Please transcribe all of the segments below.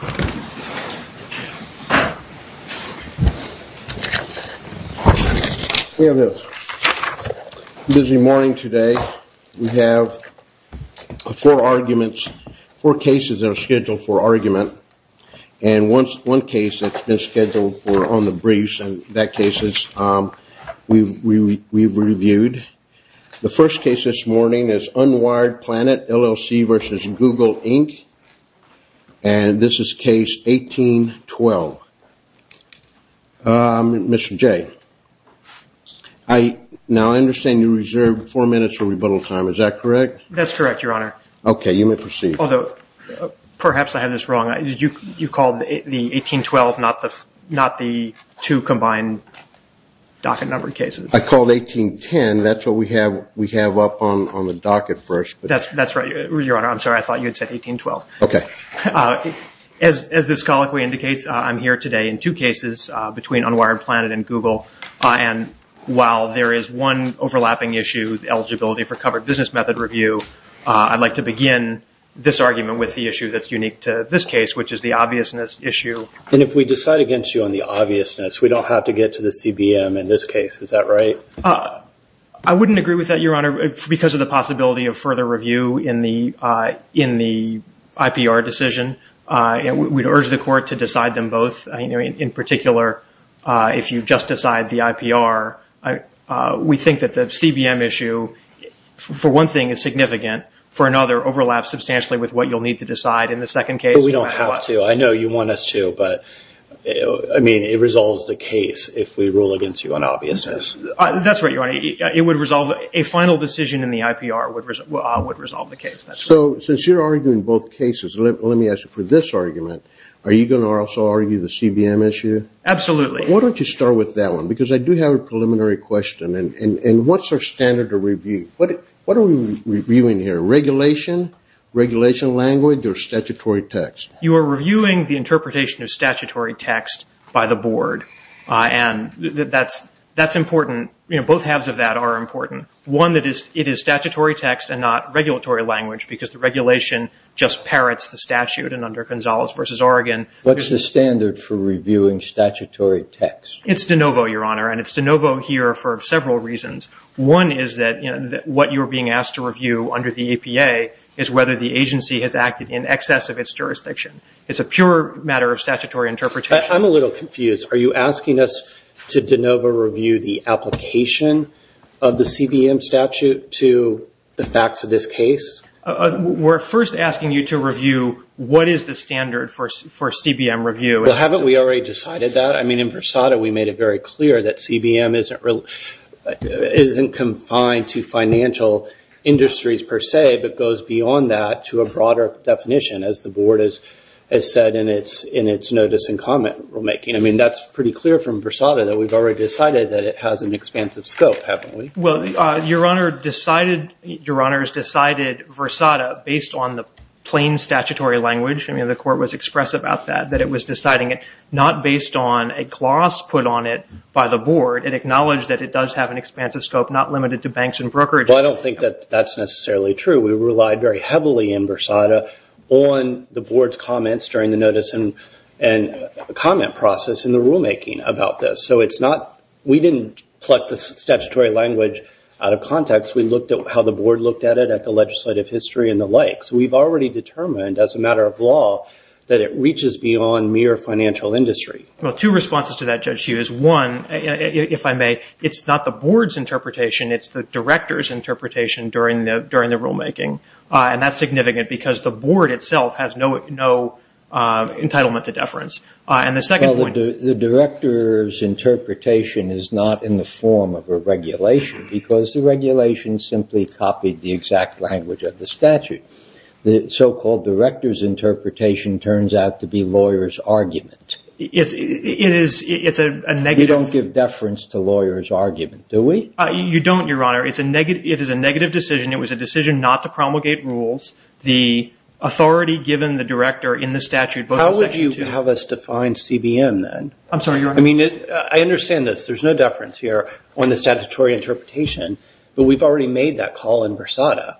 We have a busy morning today. We have four arguments, four cases that are scheduled for argument. And one case that's been scheduled for on the briefs, and that case we've reviewed. The first case this morning is Unwired Planet, LLC v. Google Inc. And this is case 18-12. Mr. Jay, now I understand you reserved four minutes for rebuttal time, is that correct? That's correct, Your Honor. Okay, you may proceed. Although, perhaps I have this wrong. You called the 18-12, not the two combined docket number cases. I called 18-10, that's what we have up on the docket first. That's right, Your Honor. I'm sorry, I thought you had said 18-12. Okay. As this colloquy indicates, I'm here today in two cases, between Unwired Planet and Google. And while there is one overlapping issue, eligibility for covered business method review, I'd like to begin this argument with the issue that's unique to this case, which is the obviousness issue. And if we decide against you on the obviousness, we don't have to get to the CBM in this case, is that right? I wouldn't agree with that, Your Honor, because of the possibility of further review in the IPR decision. We'd urge the court to decide them both, in particular, if you just decide the IPR. We think that the CBM issue, for one thing, is significant. For another, overlaps substantially with what you'll need to decide in the second case. We don't have to. I know you want us to, but it resolves the case if we rule against you on obviousness. That's right, Your Honor. A final decision in the IPR would resolve the case. So since you're arguing both cases, let me ask you for this argument. Are you going to also argue the CBM issue? Absolutely. Why don't you start with that one? Because I do have a preliminary question. And what's our standard of review? What are we reviewing here? Regulation, regulation language, or statutory text? You are reviewing the interpretation of statutory text by the board. And that's important. Both halves of that are important. One, it is statutory text and not regulatory language, because the regulation just parrots the statute. And under Gonzales v. Oregon — What's the standard for reviewing statutory text? It's de novo, Your Honor. And it's de novo here for several reasons. One is that what you're being asked to review under the APA is whether the agency has acted in excess of its jurisdiction. It's a pure matter of statutory interpretation. I'm a little confused. Are you asking us to de novo review the application of the CBM statute to the facts of this case? We're first asking you to review what is the standard for CBM review. Well, haven't we already decided that? I mean, in Versada, we made it very clear that CBM isn't confined to financial industries per se, but goes beyond that to a broader definition, as the board has said in its notice and comment rulemaking. I mean, that's pretty clear from Versada that we've already decided that it has an expansive scope, haven't we? Well, Your Honor decided Versada based on the plain statutory language. I mean, the court was expressive about that, that it was deciding it not based on a gloss put on it by the board. It acknowledged that it does have an expansive scope not limited to banks and brokerages. Well, I don't think that that's necessarily true. We relied very heavily in Versada on the board's comments during the notice and comment process in the rulemaking about this. So it's not – we didn't pluck the statutory language out of context. We looked at how the board looked at it, at the legislative history and the likes. We've already determined as a matter of law that it reaches beyond mere financial industry. Well, two responses to that, Judge Hughes. One, if I may, it's not the board's interpretation. It's the director's interpretation during the rulemaking. And that's significant because the board itself has no entitlement to deference. And the second point – Well, the director's interpretation is not in the form of a regulation because the regulation simply copied the exact language of the statute. The so-called director's interpretation turns out to be lawyers' argument. It is – it's a negative – We don't give deference to lawyers' argument, do we? You don't, Your Honor. It's a negative – it is a negative decision. It was a decision not to promulgate rules. The authority given the director in the statute – How would you have us define CBM then? I'm sorry, Your Honor. I mean, I understand this. There's no deference here on the statutory interpretation, but we've already made that call in Versada.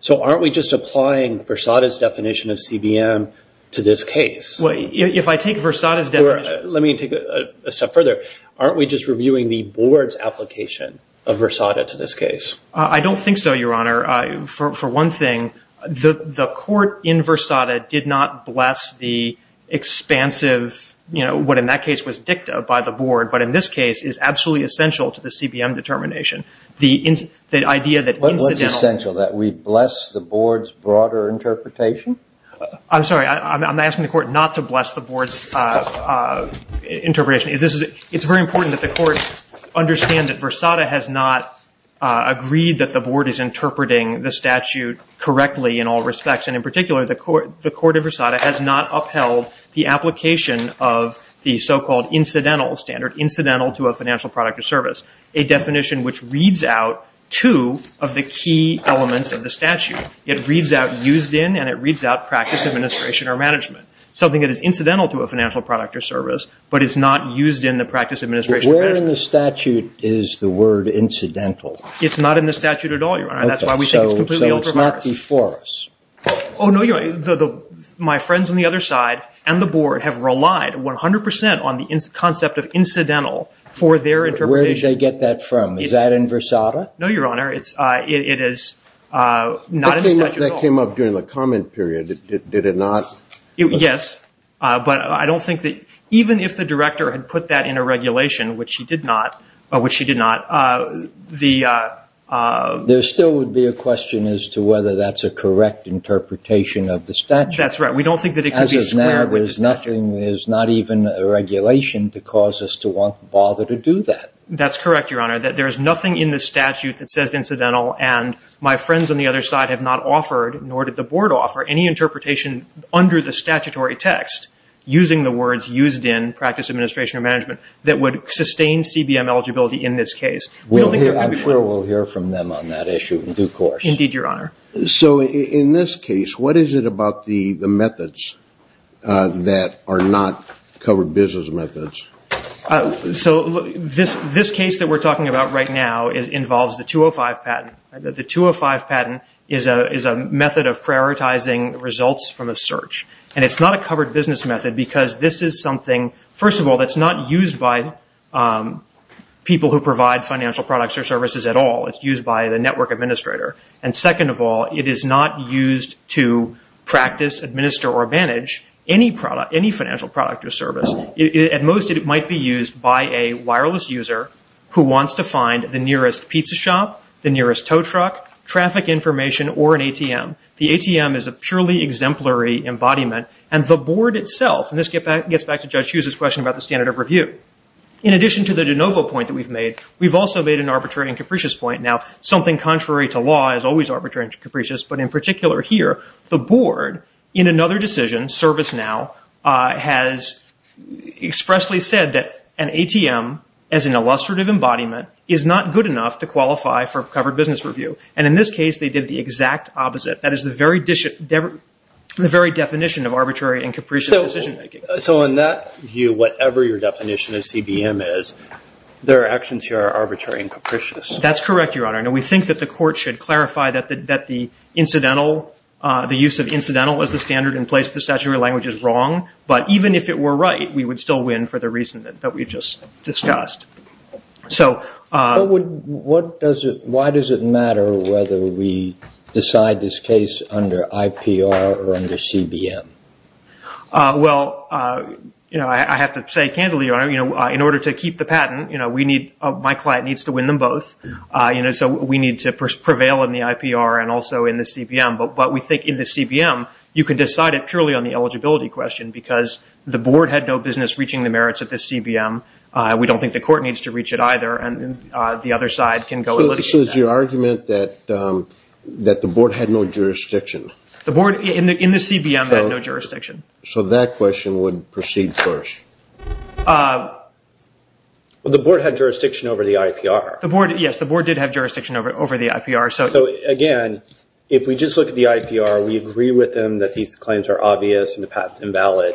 So aren't we just applying Versada's definition of CBM to this case? Well, if I take Versada's definition – Let me take it a step further. Aren't we just reviewing the board's application of Versada to this case? I don't think so, Your Honor. Your Honor, for one thing, the court in Versada did not bless the expansive, you know, what in that case was dicta by the board, but in this case is absolutely essential to the CBM determination. The idea that incidentally – What's essential, that we bless the board's broader interpretation? I'm sorry. I'm asking the court not to bless the board's interpretation. It's very important that the court understand that Versada has not agreed that the board is interpreting the statute correctly in all respects, and in particular the court of Versada has not upheld the application of the so-called incidental standard, incidental to a financial product or service, a definition which reads out two of the key elements of the statute. It reads out used in, and it reads out practice, administration, or management, something that is incidental to a financial product or service, but is not used in the practice, administration, or management. Where in the statute is the word incidental? It's not in the statute at all, Your Honor. That's why we think it's completely over-reversed. So it's not before us? Oh, no, Your Honor. My friends on the other side and the board have relied 100% on the concept of incidental for their interpretation. Where did they get that from? Is that in Versada? No, Your Honor. It is not in the statute at all. But that came up during the comment period. Did it not? Yes. But I don't think that even if the director had put that in a regulation, which she did not, there still would be a question as to whether that's a correct interpretation of the statute. That's right. We don't think that it could be squared with the statute. As of now, there's not even a regulation to cause us to bother to do that. That's correct, Your Honor. There is nothing in the statute that says incidental, and my friends on the other side have not offered, nor did the board offer, any interpretation under the statutory text using the words used in practice, that would sustain CBM eligibility in this case. I'm sure we'll hear from them on that issue in due course. Indeed, Your Honor. So in this case, what is it about the methods that are not covered business methods? So this case that we're talking about right now involves the 205 patent. The 205 patent is a method of prioritizing results from a search. And it's not a covered business method because this is something, first of all, that's not used by people who provide financial products or services at all. It's used by the network administrator. And second of all, it is not used to practice, administer, or manage any financial product or service. At most, it might be used by a wireless user who wants to find the nearest pizza The ATM is a purely exemplary embodiment, and the board itself, and this gets back to Judge Hughes' question about the standard of review. In addition to the de novo point that we've made, we've also made an arbitrary and capricious point. Now, something contrary to law is always arbitrary and capricious, but in particular here, the board, in another decision, ServiceNow, has expressly said that an ATM, as an illustrative embodiment, is not good enough to qualify for covered business review. And in this case, they did the exact opposite. That is the very definition of arbitrary and capricious decision making. So in that view, whatever your definition of CBM is, their actions here are arbitrary and capricious. That's correct, Your Honor. Now, we think that the court should clarify that the incidental, the use of incidental as the standard in place of the statutory language is wrong, but even if it were right, we would still win for the reason that we just discussed. Why does it matter whether we decide this case under IPR or under CBM? Well, I have to say candidly, Your Honor, in order to keep the patent, my client needs to win them both. So we need to prevail in the IPR and also in the CBM. But we think in the CBM, you can decide it purely on the eligibility question because the board had no business reaching the merits of the CBM. We don't think the court needs to reach it either, and the other side can go and litigate that. So is your argument that the board had no jurisdiction? The board in the CBM had no jurisdiction. So that question would proceed first. Well, the board had jurisdiction over the IPR. Yes, the board did have jurisdiction over the IPR. So, again, if we just look at the IPR, we agree with them that these claims are obvious and the patent is invalid.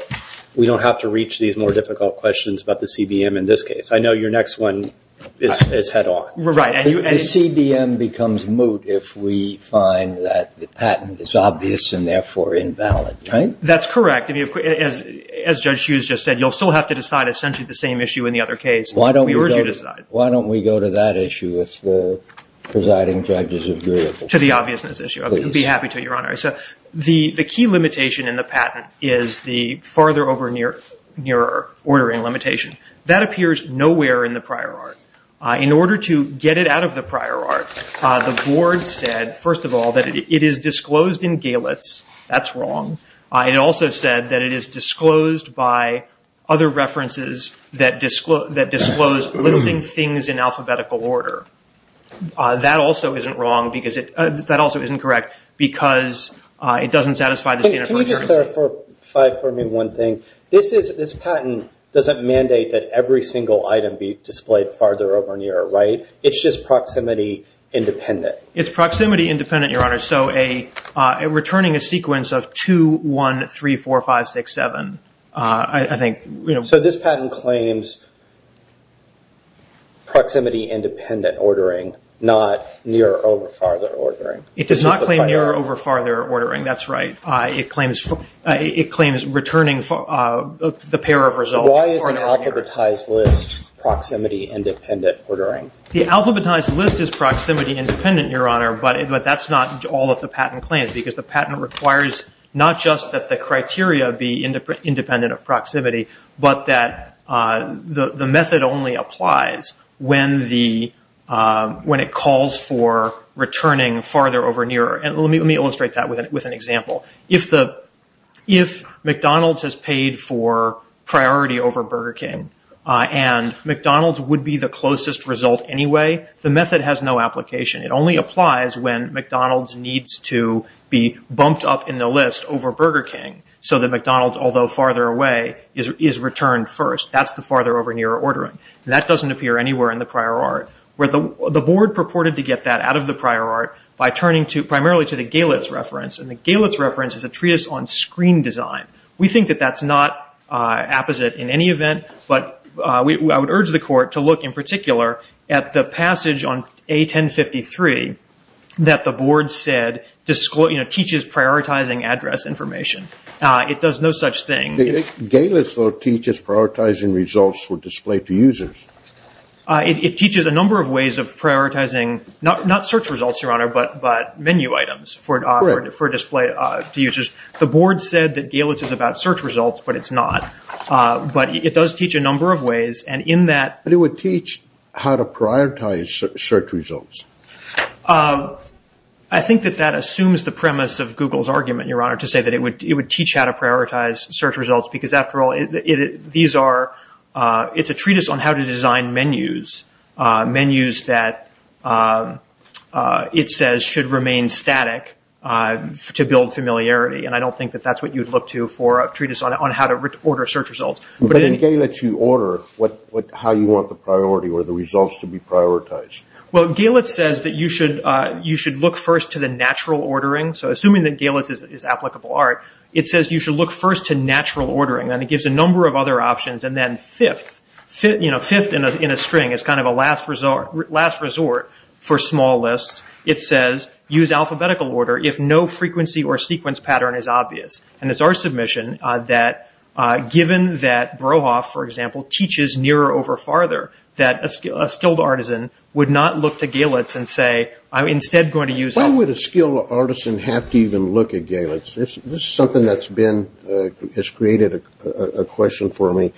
We don't have to reach these more difficult questions about the CBM in this case. I know your next one is head on. Right. The CBM becomes moot if we find that the patent is obvious and therefore invalid, right? That's correct. As Judge Hughes just said, you'll still have to decide essentially the same issue in the other case. Why don't we go to that issue if the presiding judges agree? To the obviousness issue. I'd be happy to, Your Honor. The key limitation in the patent is the farther-over-near ordering limitation. That appears nowhere in the prior art. In order to get it out of the prior art, the board said, first of all, that it is disclosed in Galetz. That's wrong. It also said that it is disclosed by other references that disclose listing things in alphabetical order. That also isn't correct because it doesn't satisfy the standard for accuracy. Can we just clarify for me one thing? This patent doesn't mandate that every single item be displayed farther-over-near, right? It's just proximity independent. It's proximity independent, Your Honor, so returning a sequence of 2, 1, 3, 4, 5, 6, 7. So this patent claims proximity independent ordering, not near-over-farther ordering. It does not claim near-over-farther ordering. That's right. It claims returning the pair of results farther-over-near. Why is an alphabetized list proximity independent ordering? The alphabetized list is proximity independent, Your Honor, but that's not all that the patent claims because the patent requires not just that the criteria be independent of proximity, but that the method only applies when it calls for returning farther-over-near. Let me illustrate that with an example. If McDonald's has paid for priority over Burger King and McDonald's would be the closest result anyway, the method has no application. It only applies when McDonald's needs to be bumped up in the list over Burger King so that McDonald's, although farther away, is returned first. That's the farther-over-near ordering. That doesn't appear anywhere in the prior art. The board purported to get that out of the prior art by turning primarily to the Galitz reference, and the Galitz reference is a treatise on screen design. We think that that's not apposite in any event, but I would urge the court to look in particular at the passage on A1053 that the board said teaches prioritizing address information. It does no such thing. Galitz, though, teaches prioritizing results for display to users. It teaches a number of ways of prioritizing, not search results, Your Honor, but menu items for display to users. The board said that Galitz is about search results, but it's not. But it does teach a number of ways, and in that— But it would teach how to prioritize search results. I think that that assumes the premise of Google's argument, Your Honor, to say that it would teach how to prioritize search results because, after all, these are—it's a treatise on how to design menus, menus that it says should remain static to build familiarity, and I don't think that that's what you'd look to for a treatise on how to order search results. But in Galitz, you order how you want the priority or the results to be prioritized. Well, Galitz says that you should look first to the natural ordering. So assuming that Galitz is applicable art, it says you should look first to natural ordering, and it gives a number of other options. And then fifth, you know, fifth in a string is kind of a last resort for small lists. It says use alphabetical order if no frequency or sequence pattern is obvious. And it's our submission that, given that Brohoff, for example, teaches nearer over farther, that a skilled artisan would not look to Galitz and say, I'm instead going to use— Why would a skilled artisan have to even look at Galitz? This is something that's been—has created a question for me.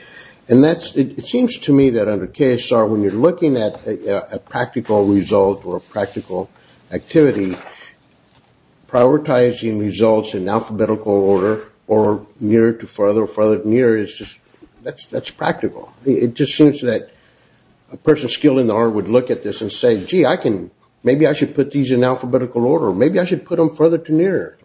And that's—it seems to me that under KSR, when you're looking at a practical result or a practical activity, prioritizing results in alphabetical order or nearer to farther or farther to nearer is just—that's practical. It just seems that a person skilled in the art would look at this and say, gee, I can— maybe I should put these in alphabetical order, or maybe I should put them farther to nearer.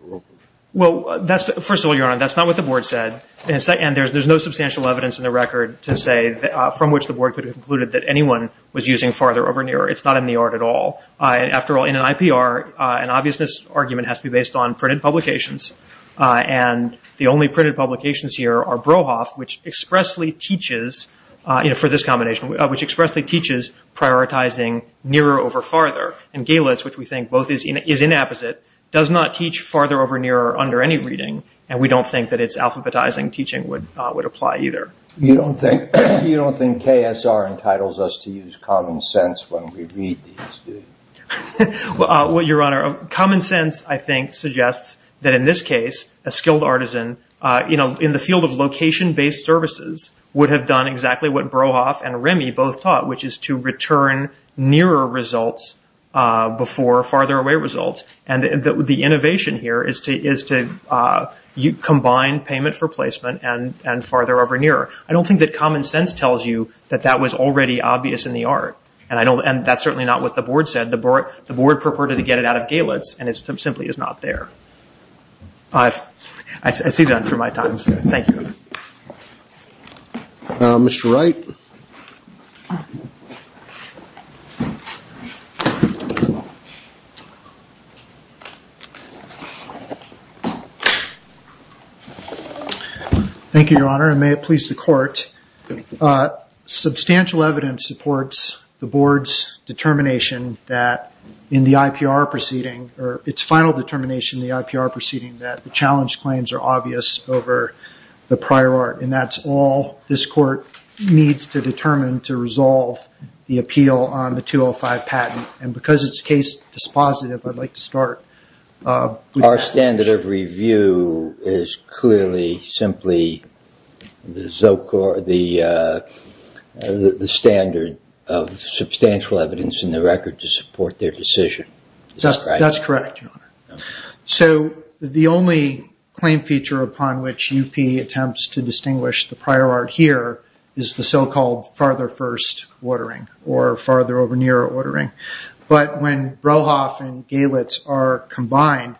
Well, that's—first of all, Your Honor, that's not what the Board said. And there's no substantial evidence in the record to say from which the Board could have concluded that anyone was using farther over nearer. It's not in the art at all. After all, in an IPR, an obviousness argument has to be based on printed publications. And the only printed publications here are Brohoff, which expressly teaches, for this combination, which expressly teaches prioritizing nearer over farther. And Galitz, which we think both is inapposite, does not teach farther over nearer under any reading. And we don't think that its alphabetizing teaching would apply either. You don't think KSR entitles us to use common sense when we read these, do you? Well, Your Honor, common sense, I think, suggests that in this case, a skilled artisan in the field of location-based services would have done exactly what Brohoff and Remy both taught, which is to return nearer results before farther away results. And the innovation here is to combine payment for placement and farther over nearer. I don't think that common sense tells you that that was already obvious in the art. And that's certainly not what the Board said. The Board purported to get it out of Galitz, and it simply is not there. I see you're done for my time. Thank you. Mr. Wright. Thank you, Your Honor, and may it please the Court. Substantial evidence supports the Board's determination that in the IPR proceeding, or its final determination in the IPR proceeding, that the challenge claims are obvious over the prior art. And that's all this Court needs to determine to resolve the appeal on the 205 patent. And because it's case dispositive, I'd like to start with that. Our standard of review is clearly simply the standard of substantial evidence in the record to support their decision. That's correct, Your Honor. So the only claim feature upon which UP attempts to distinguish the prior art here is the so-called farther first ordering, or farther over nearer ordering. But when Brohoff and Galitz are combined,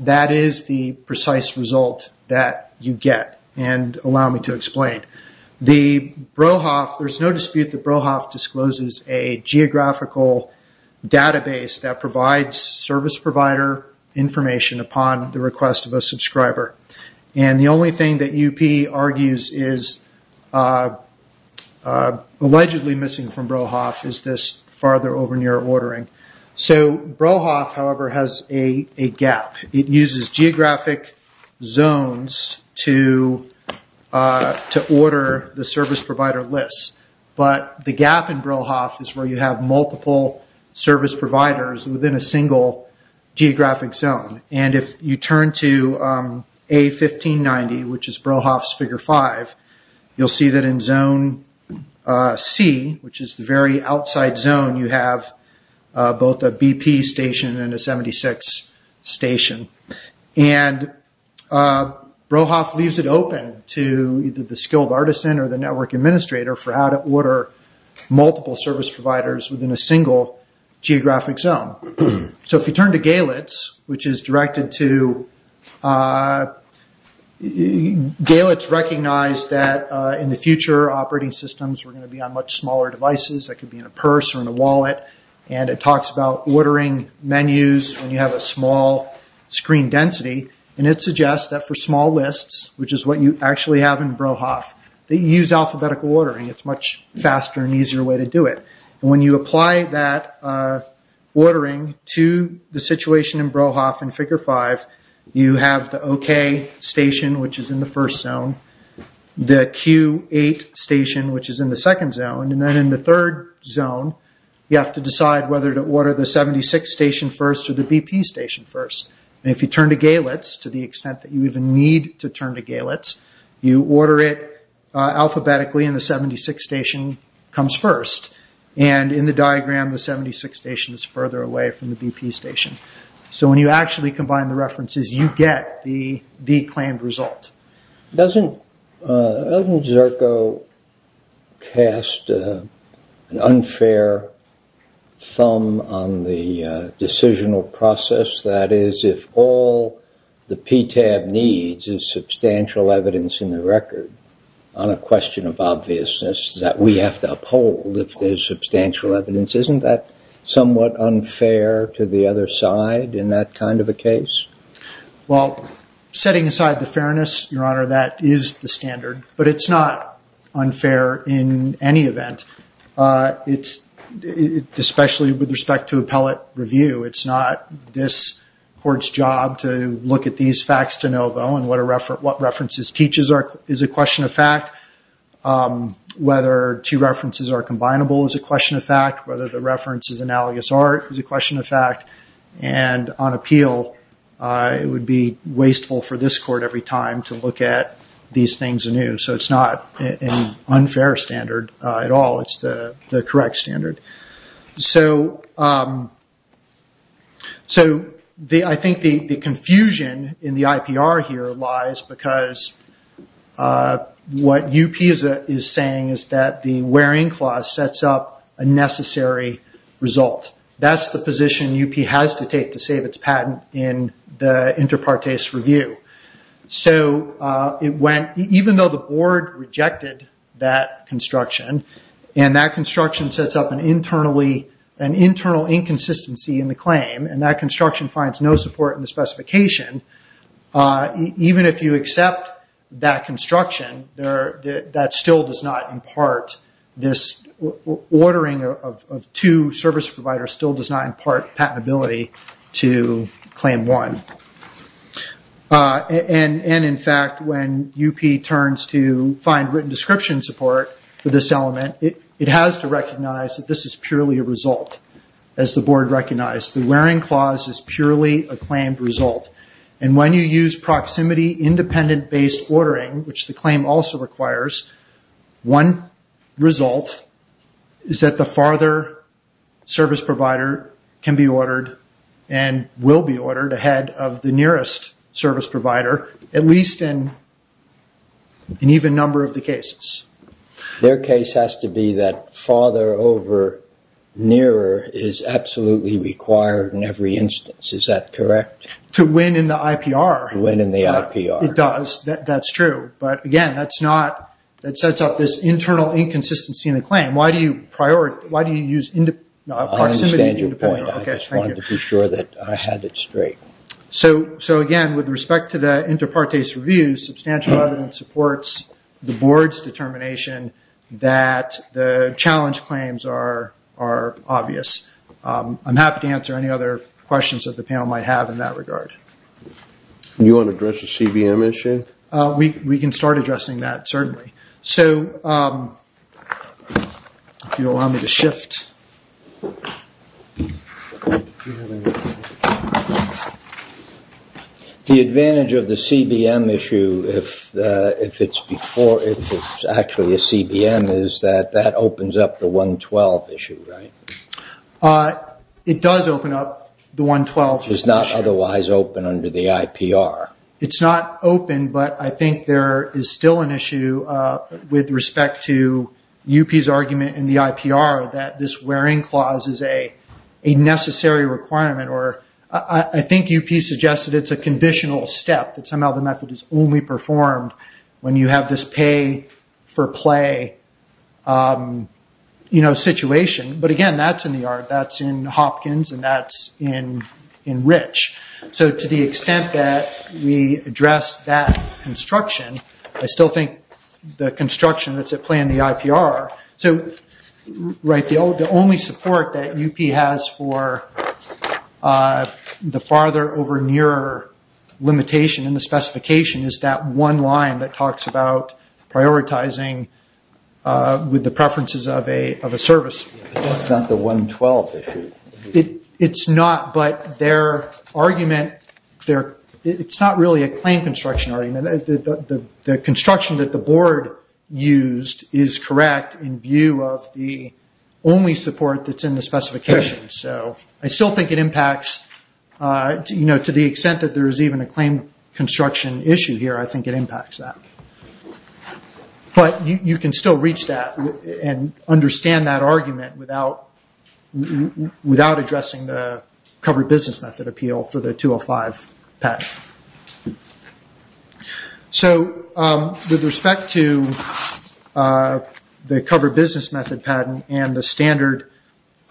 that is the precise result that you get. And allow me to explain. There's no dispute that Brohoff discloses a geographical database that provides service provider information upon the request of a subscriber. And the only thing that UP argues is allegedly missing from Brohoff is this farther over nearer ordering. So Brohoff, however, has a gap. It uses geographic zones to order the service provider lists. But the gap in Brohoff is where you have multiple service providers within a single geographic zone. And if you turn to A1590, which is Brohoff's Figure 5, you'll see that in Zone C, which is the very outside zone, you have both a BP station and a 76 station. And Brohoff leaves it open to either the skilled artisan or the network administrator for how to order multiple service providers within a single geographic zone. So if you turn to Galitz, which is directed to... Galitz recognized that in the future, operating systems were going to be on much smaller devices that could be in a purse or in a wallet. And it talks about ordering menus when you have a small screen density. And it suggests that for small lists, which is what you actually have in Brohoff, that you use alphabetical ordering. It's a much faster and easier way to do it. And when you apply that ordering to the situation in Brohoff in Figure 5, you have the OK station, which is in the first zone, the Q8 station, which is in the second zone. And then in the third zone, you have to decide whether to order the 76 station first or the BP station first. And if you turn to Galitz, to the extent that you even need to turn to Galitz, you order it alphabetically and the 76 station comes first. And in the diagram, the 76 station is further away from the BP station. So when you actually combine the references, you get the claimed result. Doesn't Zerko cast an unfair thumb on the decisional process? That is, if all the PTAB needs is substantial evidence in the record on a question of obviousness, that we have to uphold if there's substantial evidence. Isn't that somewhat unfair to the other side in that kind of a case? Well, setting aside the fairness, Your Honor, that is the standard. But it's not unfair in any event, especially with respect to appellate review. It's not this court's job to look at these facts de novo and what references teach is a question of fact. Whether two references are combinable is a question of fact. Whether the reference is analogous art is a question of fact. And on appeal, it would be wasteful for this court every time to look at these things anew. So it's not an unfair standard at all, it's the correct standard. So I think the confusion in the IPR here lies because what UPISA is saying is that the wearing clause sets up a necessary result. That's the position UP has to take to save its patent in the inter partes review. So even though the board rejected that construction, and that construction sets up an internal inconsistency in the claim, and that construction finds no support in the specification, even if you accept that construction, that still does not impart this ordering of two service providers, still does not impart patentability to claim one. And in fact, when UP turns to find written description support for this element, it has to recognize that this is purely a result, as the board recognized. The wearing clause is purely a claimed result. And when you use proximity independent based ordering, which the claim also requires, one result is that the farther service provider can be ordered and will be ordered ahead of the nearest service provider, at least in an even number of the cases. Their case has to be that farther over nearer is absolutely required in every instance. Is that correct? To win in the IPR. To win in the IPR. It does. That's true. But again, that sets up this internal inconsistency in the claim. Why do you use proximity independent? I understand your point. I just wanted to be sure that I had it straight. So again, with respect to the inter partes review, substantial evidence supports the board's determination that the challenge claims are obvious. I'm happy to answer any other questions that the panel might have in that regard. Do you want to address the CBM issue? We can start addressing that, certainly. The advantage of the CBM issue, if it's actually a CBM, is that that opens up the 112 issue, right? It does open up the 112 issue. It's not otherwise open under the IPR. It's not open, but I think there is still an issue with respect to UP's argument in the IPR that this wearing clause is a necessary requirement. I think UP suggested it's a conditional step, that somehow the method is only performed when you have this pay for play situation. But again, that's in the yard. That's in Hopkins, and that's in Rich. So to the extent that we address that construction, I still think the construction that's at play in the IPR. The only support that UP has for the farther over nearer limitation in the specification is that one line that talks about prioritizing with the preferences of a service. That's not the 112 issue. It's not, but their argument, it's not really a claim construction argument. The construction that the board used is correct in view of the only support that's in the specification. I still think it impacts, to the extent that there is even a claim construction issue here, I think it impacts that. But you can still reach that and understand that argument without addressing the covered business method appeal for the 205 patent. With respect to the covered business method patent and the standard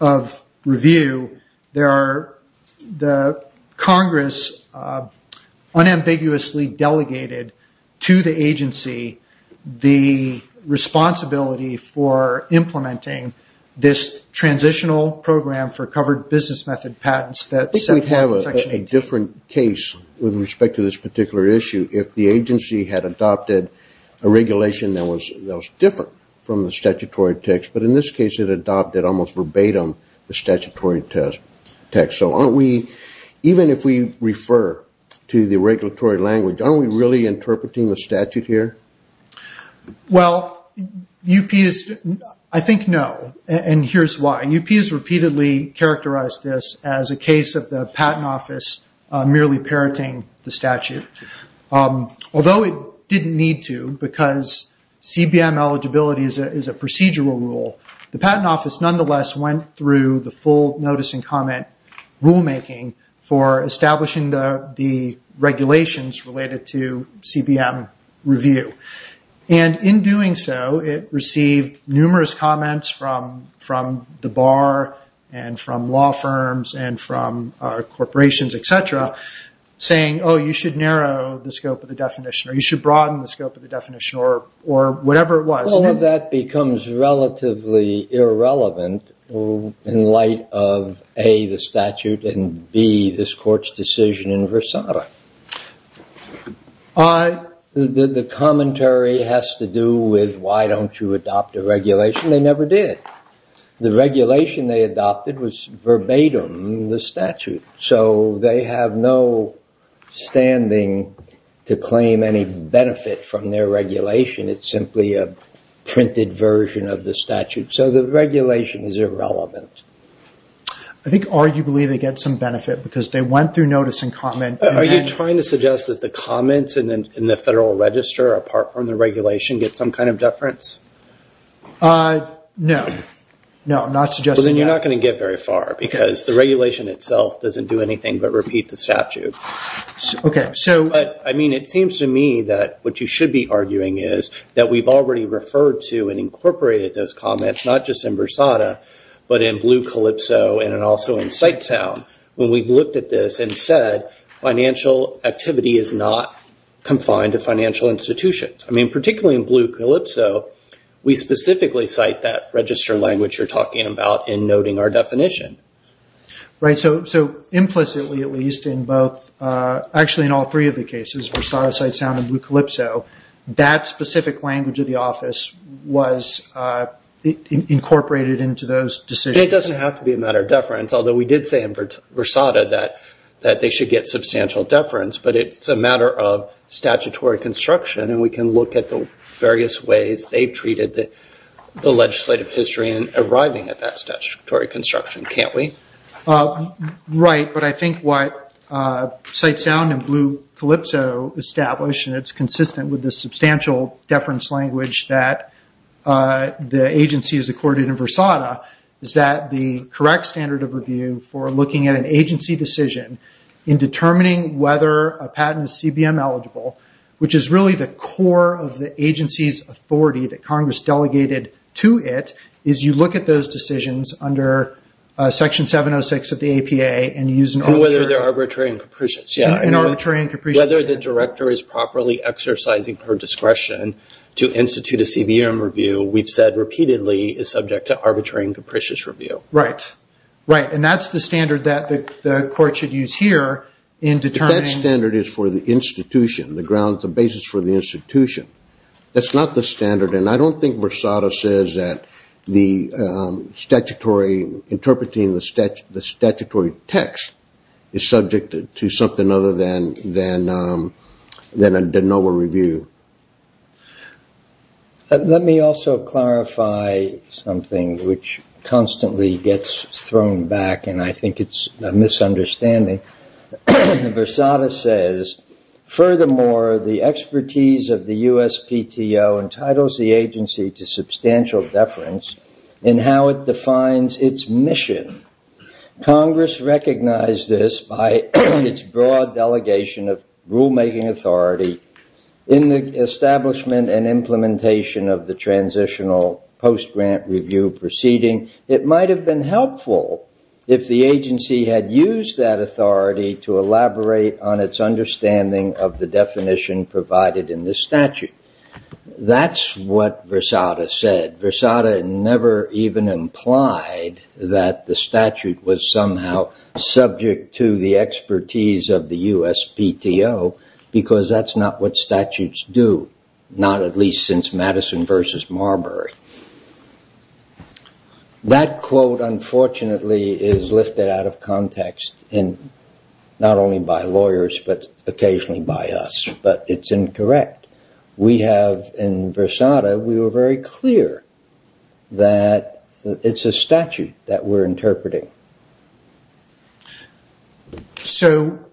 of review, the Congress unambiguously delegated to the agency the responsibility for implementing this transitional program for covered business method patents. I think we have a different case with respect to this particular issue. If the agency had adopted a regulation that was different from the statutory text, but in this case it adopted almost verbatim the statutory text. Even if we refer to the regulatory language, aren't we really interpreting the statute here? I think no, and here's why. UP has repeatedly characterized this as a case of the patent office merely parroting the statute. Although it didn't need to, because CBM eligibility is a procedural rule, the patent office nonetheless went through the full notice and comment rulemaking for establishing the regulations related to CBM review. In doing so, it received numerous comments from the bar and from law firms and from corporations, etc., saying, oh, you should narrow the scope of the definition, or you should broaden the scope of the definition, or whatever it was. All of that becomes relatively irrelevant in light of A, the statute, and B, this court's decision in Versailles. The commentary has to do with why don't you adopt a regulation. They never did. The regulation they adopted was verbatim the statute, so they have no standing to claim any benefit from their regulation. It's simply a printed version of the statute. So the regulation is irrelevant. I think arguably they get some benefit, because they went through notice and comment. Are you trying to suggest that the comments in the Federal Register, apart from the regulation, get some kind of deference? No. No, I'm not suggesting that. Then you're not going to get very far, because the regulation itself doesn't do anything but repeat the statute. I mean, it seems to me that what you should be arguing is that we've already referred to and incorporated those comments, not just in Versailles, but in Blue Calypso and also in Citesound, when we've looked at this and said, financial activity is not confined to financial institutions. Particularly in Blue Calypso, we specifically cite that register language you're talking about in noting our definition. Right. So implicitly at least in both, actually in all three of the cases, Versailles, Citesound, and Blue Calypso, that specific language of the office was incorporated into those decisions. It doesn't have to be a matter of deference, although we did say in Versailles that they should get substantial deference. But it's a matter of statutory construction, and we can look at the various ways they've treated the legislative history in arriving at that statutory construction, can't we? Right, but I think what Citesound and Blue Calypso established, and it's consistent with the substantial deference language that the agency has accorded in Versailles, is that the correct standard of review for looking at an agency decision in determining whether a patent is CBM eligible, which is really the core of the agency's authority that Congress delegated to it, is you look at those decisions under Section 706 of the APA and use an arbitrary And whether they're arbitrary and capricious, yeah. And arbitrary and capricious. Whether the director is properly exercising her discretion to institute a CBM review, we've said repeatedly is subject to arbitrary and capricious review. Right. Right, and that's the standard that the court should use here in determining But that standard is for the institution. The grounds, the basis for the institution. That's not the standard, and I don't think Versailles says that interpreting the statutory text is subject to something other than a de novo review. Let me also clarify something which constantly gets thrown back, and I think it's a misunderstanding. Versailles says, Furthermore, the expertise of the USPTO entitles the agency to substantial deference in how it defines its mission. Congress recognized this by its broad delegation of rulemaking authority in the establishment and implementation of the transitional post-grant review proceeding. It might have been helpful if the agency had used that authority to elaborate on its understanding of the definition provided in this statute. That's what Versailles said. Versailles never even implied that the statute was somehow subject to the expertise of the USPTO because that's not what statutes do, not at least since Madison v. Marbury. That quote, unfortunately, is lifted out of context, not only by lawyers, but occasionally by us, but it's incorrect. We have, in Versailles, we were very clear that it's a statute that we're interpreting. So,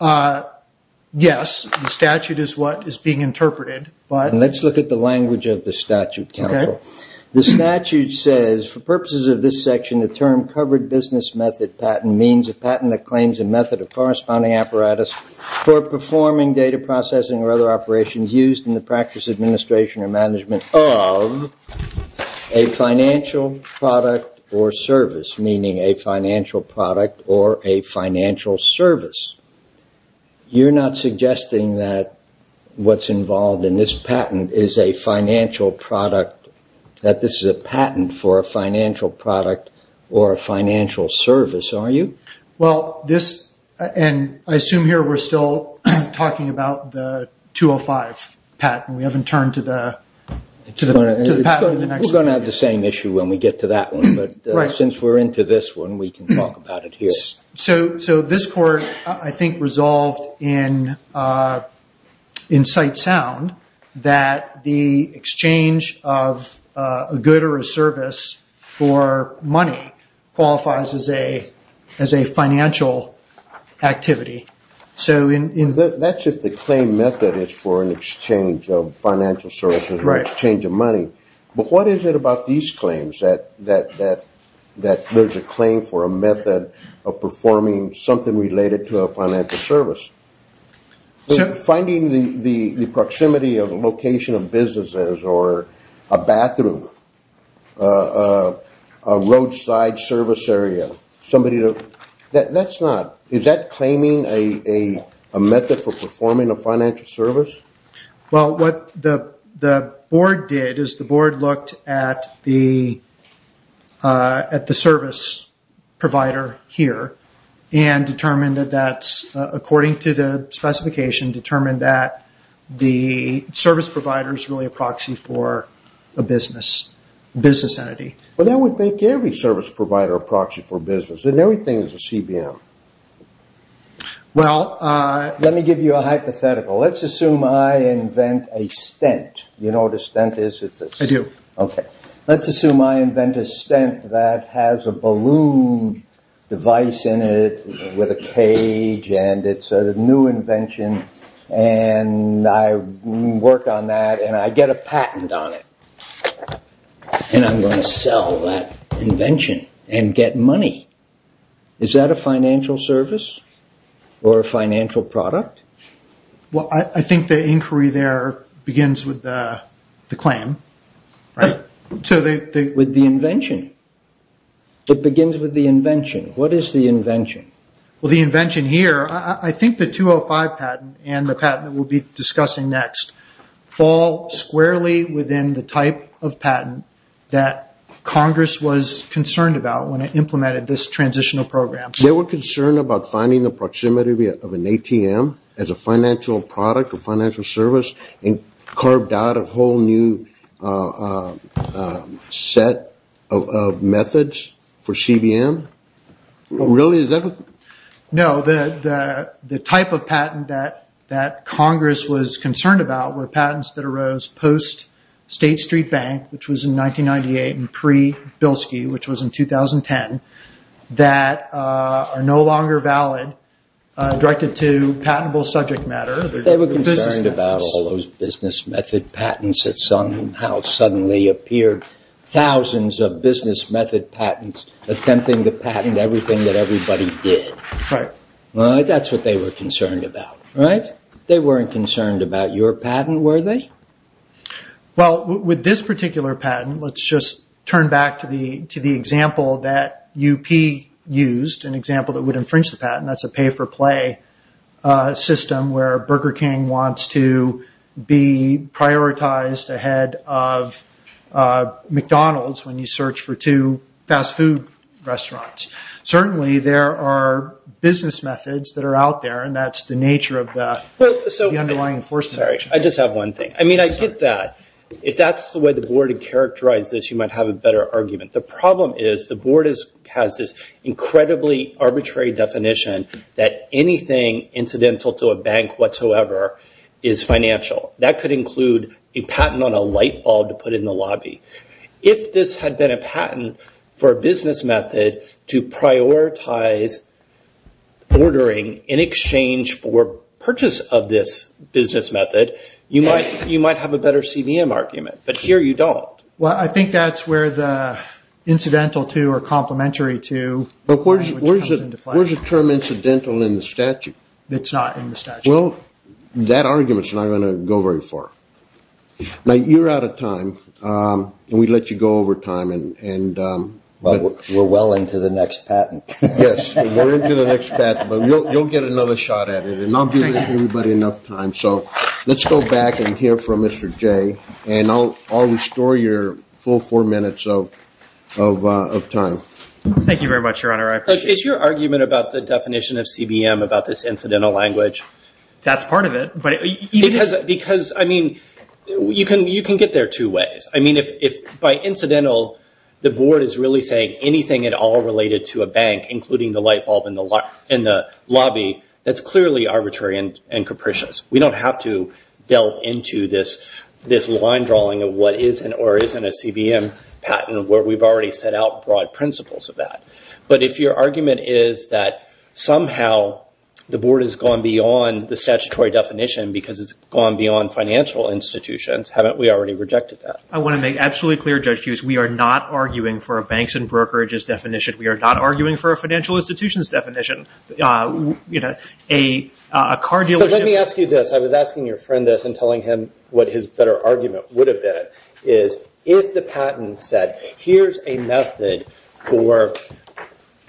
yes, the statute is what is being interpreted. Let's look at the language of the statute, Campbell. The statute says, For purposes of this section, the term covered business method patent means a patent that claims a method of corresponding apparatus for performing data processing or other operations used in the practice, administration, or management of a financial product or service, meaning a financial product or a financial service. You're not suggesting that what's involved in this patent is a financial product, that this is a patent for a financial product or a financial service, are you? Well, this, and I assume here we're still talking about the 205 patent. We haven't turned to the patent in the next one. We're going to have the same issue when we get to that one, but since we're into this one, we can talk about it here. So this court, I think, resolved in sight sound that the exchange of a good or a service for money qualifies as a financial activity. That's if the claim method is for an exchange of financial services or an exchange of money. But what is it about these claims that there's a claim for a method of performing something related to a financial service? Finding the proximity of a location of businesses or a bathroom, a roadside service area, somebody to, that's not, is that claiming a method for performing a financial service? Well, what the board did is the board looked at the service provider here and determined that that's, according to the specification, determined that the service provider is really a proxy for a business, a business entity. Well, that would make every service provider a proxy for business, and everything is a CBM. Well, let me give you a hypothetical. Let's assume I invent a stent. You know what a stent is? I do. Okay. Let's assume I invent a stent that has a balloon device in it with a cage, and it's a new invention, and I work on that, and I get a patent on it, and I'm going to sell that invention and get money. Is that a financial service or a financial product? Well, I think the inquiry there begins with the claim, right? With the invention. It begins with the invention. What is the invention? Well, the invention here, I think the 205 patent and the patent that we'll be discussing next fall squarely within the type of patent that Congress was concerned about when it implemented this transitional program. They were concerned about finding the proximity of an ATM as a financial product or financial service and carved out a whole new set of methods for CBM? Really? No. The type of patent that Congress was concerned about were patents that arose post-State Street Bank, which was in 1998, and pre-Bilski, which was in 2010, that are no longer valid, directed to patentable subject matter. They were concerned about all those business method patents that somehow suddenly appeared. Thousands of business method patents attempting to patent everything that everybody did. Right. That's what they were concerned about, right? They weren't concerned about your patent, were they? Well, with this particular patent, let's just turn back to the example that UP used, an example that would infringe the patent. That's a pay-for-play system where Burger King wants to be prioritized ahead of McDonald's when you search for two fast food restaurants. Certainly, there are business methods that are out there, and that's the nature of the underlying enforcement. I just have one thing. I get that. If that's the way the board had characterized this, you might have a better argument. The problem is the board has this incredibly arbitrary definition that anything incidental to a bank whatsoever is financial. That could include a patent on a light bulb to put in the lobby. If this had been a patent for a business method to prioritize ordering in exchange for purchase of this business method, you might have a better CBM argument, but here you don't. Well, I think that's where the incidental to or complementary to language comes into play. Where's the term incidental in the statute? It's not in the statute. Well, that argument's not going to go very far. Now, you're out of time, and we let you go over time. But we're well into the next patent. Yes, we're into the next patent, but you'll get another shot at it, and I'll give everybody enough time. So let's go back and hear from Mr. Jay, and I'll restore your full four minutes of time. Thank you very much, Your Honor. I appreciate it. Is your argument about the definition of CBM about this incidental language? That's part of it. Because, I mean, you can get there two ways. I mean, if by incidental, the board is really saying anything at all related to a bank, including the light bulb in the lobby, that's clearly arbitrary and capricious. We don't have to delve into this line drawing of what is or isn't a CBM patent, where we've already set out broad principles of that. But if your argument is that somehow the board has gone beyond the statutory definition because it's gone beyond financial institutions, haven't we already rejected that? I want to make absolutely clear, Judge Hughes, we are not arguing for a banks and brokerages definition. We are not arguing for a financial institutions definition. Let me ask you this. I was asking your friend this and telling him what his better argument would have been, is if the patent said, here's a method for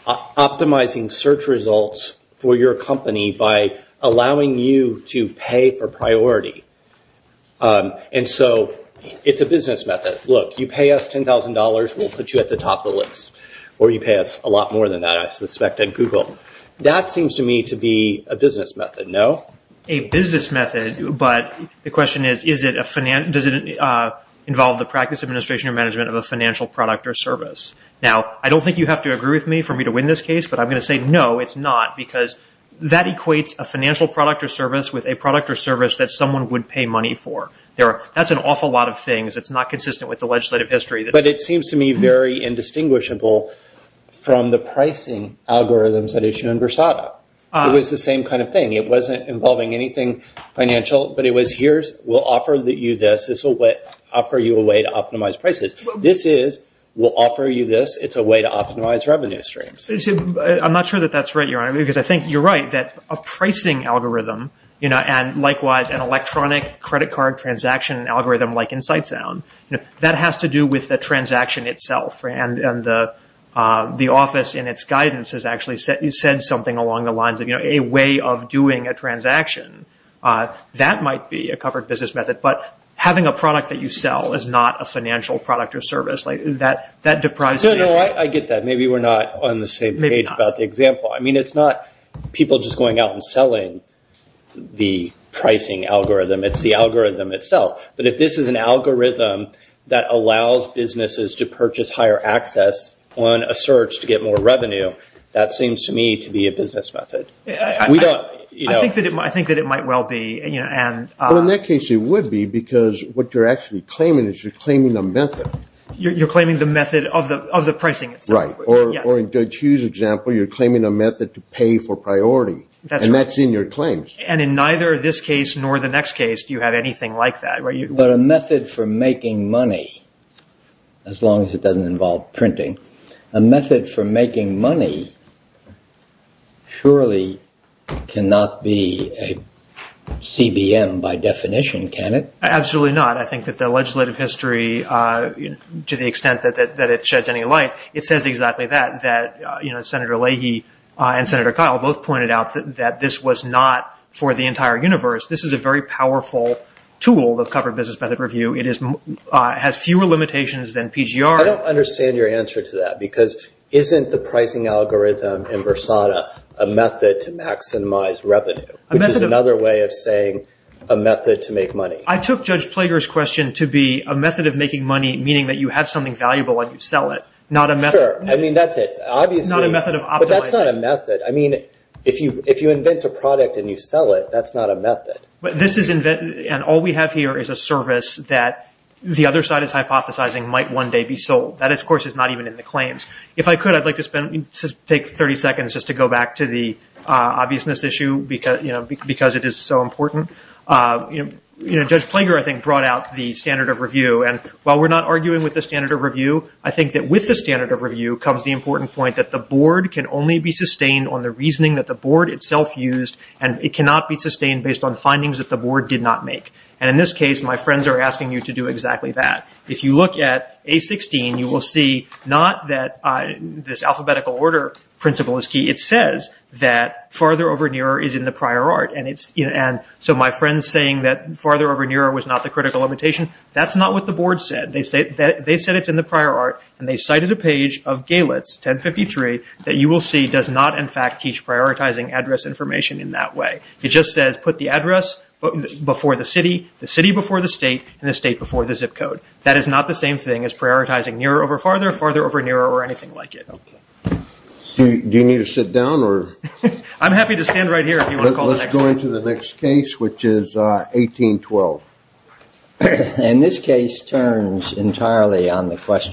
optimizing search results for your company by allowing you to pay for priority. And so it's a business method. Look, you pay us $10,000, we'll put you at the top of the list. Or you pay us a lot more than that, I suspect, at Google. That seems to me to be a business method, no? A business method, but the question is, does it involve the practice, administration, or management of a financial product or service? Now, I don't think you have to agree with me for me to win this case, but I'm going to say no, it's not. Because that equates a financial product or service with a product or service that someone would pay money for. That's an awful lot of things. It's not consistent with the legislative history. But it seems to me very indistinguishable from the pricing algorithms that issue in Versado. It was the same kind of thing. It wasn't involving anything financial, but it was, here, we'll offer you this. This will offer you a way to optimize prices. This is, we'll offer you this. It's a way to optimize revenue streams. I'm not sure that that's right, Your Honor, because I think you're right that a pricing algorithm, and likewise an electronic credit card transaction algorithm like Insightsound, that has to do with the transaction itself. And the office, in its guidance, has actually said something along the lines of a way of doing a transaction. That might be a covered business method. But having a product that you sell is not a financial product or service. That deprives me. No, no, I get that. Maybe we're not on the same page about the example. I mean, it's not people just going out and selling the pricing algorithm. It's the algorithm itself. But if this is an algorithm that allows businesses to purchase higher access on a search to get more revenue, that seems to me to be a business method. I think that it might well be. Well, in that case, it would be, because what you're actually claiming is you're claiming a method. You're claiming the method of the pricing itself. Right. Or in Judge Hughes' example, you're claiming a method to pay for priority. And that's in your claims. And in neither this case nor the next case do you have anything like that. But a method for making money, as long as it doesn't involve printing, a method for making money surely cannot be a CBM by definition, can it? Absolutely not. I think that the legislative history, to the extent that it sheds any light, it says exactly that, that Senator Leahy and Senator Kyle both pointed out that this was not for the entire universe. This is a very powerful tool, the covered business method review. It has fewer limitations than PGR. I don't understand your answer to that, because isn't the pricing algorithm in Versada a method to maximize revenue, which is another way of saying a method to make money? I took Judge Plager's question to be a method of making money, meaning that you have something valuable and you sell it. Not a method. Sure. I mean, that's it. Obviously. Not a method of optimizing. But that's not a method. I mean, if you invent a product and you sell it, that's not a method. But this is invented, and all we have here is a service that the other side is hypothesizing might one day be sold. That, of course, is not even in the claims. If I could, I'd like to take 30 seconds just to go back to the obviousness issue, because it is so important. Judge Plager, I think, brought out the standard of review, and while we're not arguing with the standard of review, I think that with the standard of review comes the important point that the board can only be sustained on the reasoning that the board itself used, and it cannot be sustained based on findings that the board did not make. And in this case, my friends are asking you to do exactly that. If you look at A16, you will see not that this alphabetical order principle is key. It says that farther over nearer is in the prior art. And so my friends saying that farther over nearer was not the critical limitation, that's not what the board said. They said it's in the prior art, and they cited a page of Galitz 1053 that you will see does not, in fact, teach prioritizing address information in that way. It just says put the address before the city, the city before the state, and the state before the zip code. That is not the same thing as prioritizing nearer over farther, farther over nearer, or anything like it. Do you need to sit down, or? I'm happy to stand right here if you want to call the next one. Let's go into the next case, which is 1812. And this case turns entirely on the question.